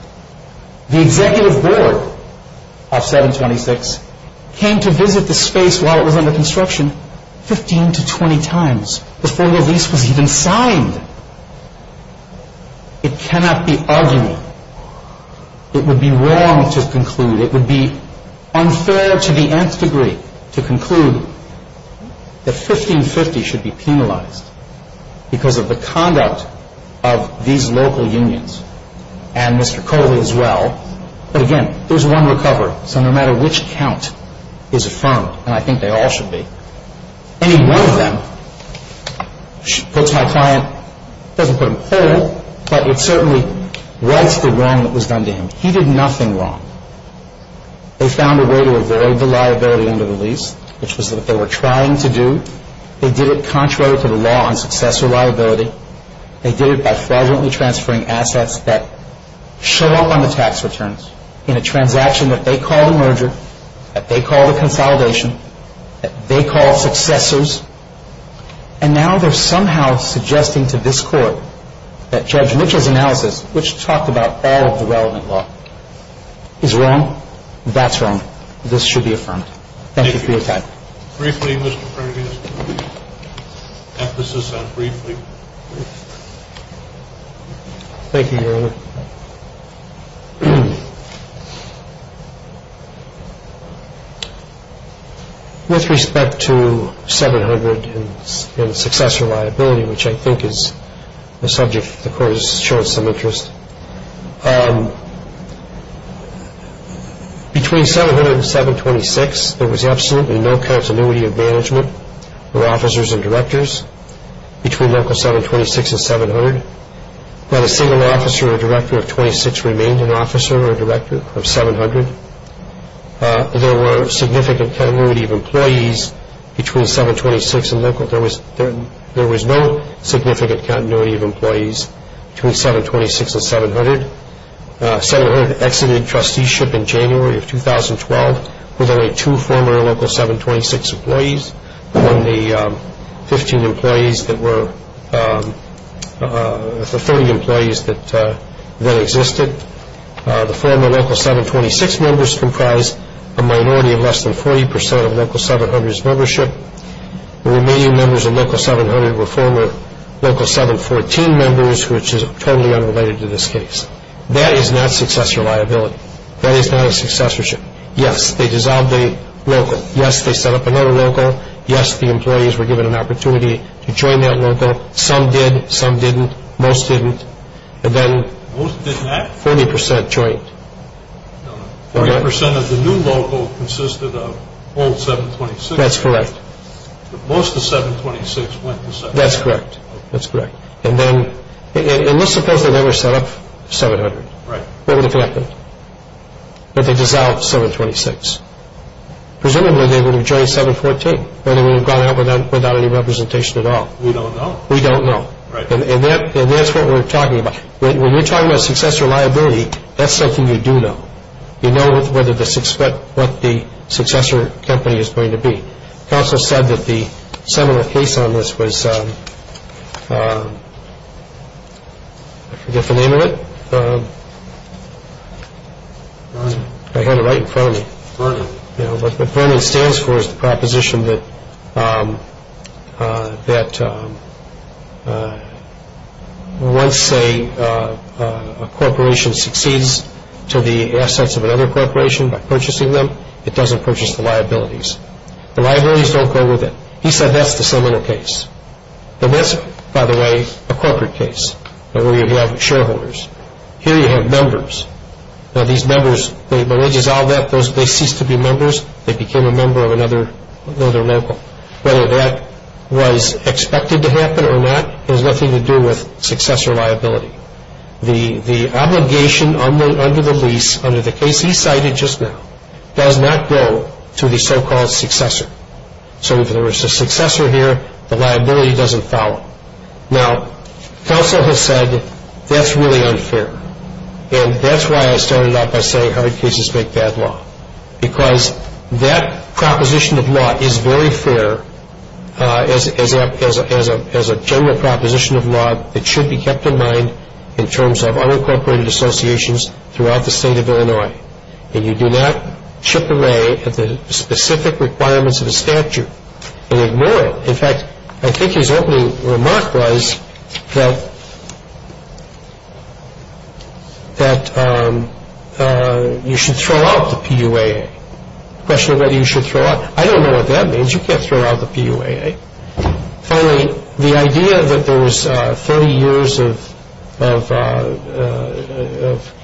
The executive board of 726 came to visit the space while it was under construction 15 to 20 times before the lease was even signed. It cannot be argued. It would be wrong to conclude. It would be unfair to the nth degree to conclude that 1550 should be penalized because of the conduct of these local unions and Mr. Coley as well. But again, there's one recovery. So no matter which count is affirmed, and I think they all should be, any one of them puts my client, doesn't put him cold, but it certainly rights the wrong that was done to him. He did nothing wrong. They found a way to avoid the liability under the lease, which was what they were trying to do. They did it contrary to the law on successor liability. They did it by fraudulently transferring assets that showed up on the tax returns in a transaction that they called a merger, that they called a consolidation, that they called successors. And now they're somehow suggesting to this court that Judge Mitchell's analysis, which talked about all of the relevant law, is wrong. That's wrong. This should be affirmed. Thank you for your time. Thank you. Briefly, Mr. Perkins. Emphasis on briefly. Thank you, Your Honor. With respect to 700 and successor liability, which I think is the subject if the court has shown some interest, between 700 and 726, there was absolutely no continuity of management for officers and directors between local 726 and 700. Not a single officer or director of 26 remained an officer or a director of 700. There were significant continuity of employees between 726 and local. There was no significant continuity of employees between 726 and 700. 700 exited trusteeship in January of 2012 with only two former local 726 employees, among the 15 employees that were, the 30 employees that then existed. The former local 726 members comprised a minority of less than 40 percent of local 700's membership. The remaining members of local 700 were former local 714 members, which is totally unrelated to this case. That is not successor liability. That is not a successorship. Yes, they dissolved a local. Yes, they set up another local. Yes, the employees were given an opportunity to join that local. Some did. Some didn't. Most didn't. And then 40 percent joined. 40 percent of the new local consisted of old 726. That's correct. Most of the 726 went to 700. That's correct. That's correct. And let's suppose they never set up 700. Right. What would have happened? That they dissolved 726. Presumably they would have joined 714, but they would have gone out without any representation at all. We don't know. We don't know. And that's what we're talking about. When you're talking about successor liability, that's something you do know. You know what the successor company is going to be. Counsel said that the seminal case on this was – I forget the name of it. I had it right in front of me. What Vernon stands for is the proposition that once a corporation succeeds to the assets of another corporation by purchasing them, it doesn't purchase the liabilities. The liabilities don't go with it. He said that's the seminal case. And that's, by the way, a corporate case where you have shareholders. Here you have members. Now, these members, when they dissolved that, they ceased to be members. They became a member of another level. Whether that was expected to happen or not has nothing to do with successor liability. The obligation under the lease, under the case he cited just now, does not go to the so-called successor. So if there was a successor here, the liability doesn't follow. Now, counsel has said that's really unfair. And that's why I started off by saying hard cases make bad law, because that proposition of law is very fair as a general proposition of law that should be kept in mind in terms of unincorporated associations throughout the state of Illinois. And you do not chip away at the specific requirements of a statute and ignore it. In fact, I think his opening remark was that you should throw out the PUAA. The question of whether you should throw out, I don't know what that means. You can't throw out the PUAA. Finally, the idea that there was 30 years of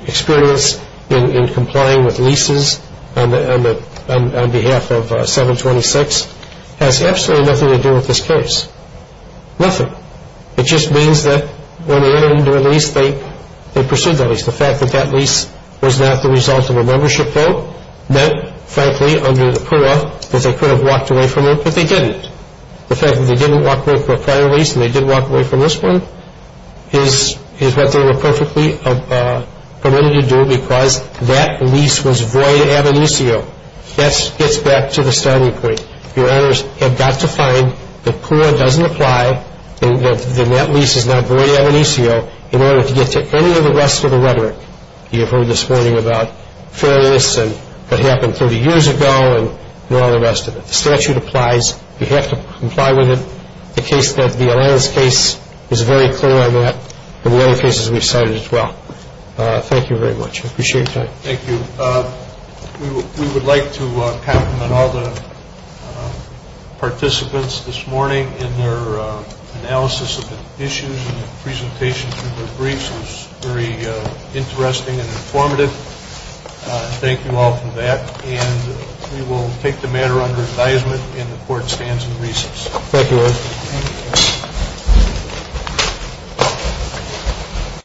experience in complying with leases on behalf of 726 has absolutely nothing to do with this case, nothing. It just means that when they entered into a lease, they pursued that lease. The fact that that lease was not the result of a membership vote meant, frankly, under the PUAA, that they could have walked away from it, but they didn't. The fact that they didn't walk away from a prior lease and they did walk away from this one is what they were perfectly permitted to do because that lease was void ad initio. That gets back to the starting point. Your honors have got to find that PUAA doesn't apply, that that lease is not void ad initio, in order to get to any of the rest of the rhetoric you heard this morning about fairness and what happened 30 years ago and all the rest of it. The statute applies. You have to comply with it. The case that the Allianz case is very clear on that and the other cases we've cited as well. Thank you very much. I appreciate your time. Thank you. We would like to compliment all the participants this morning in their analysis of the issues and the presentation through their briefs. It was very interesting and informative. Thank you all for that. And we will take the matter under advisement and the court stands in recess. Thank you.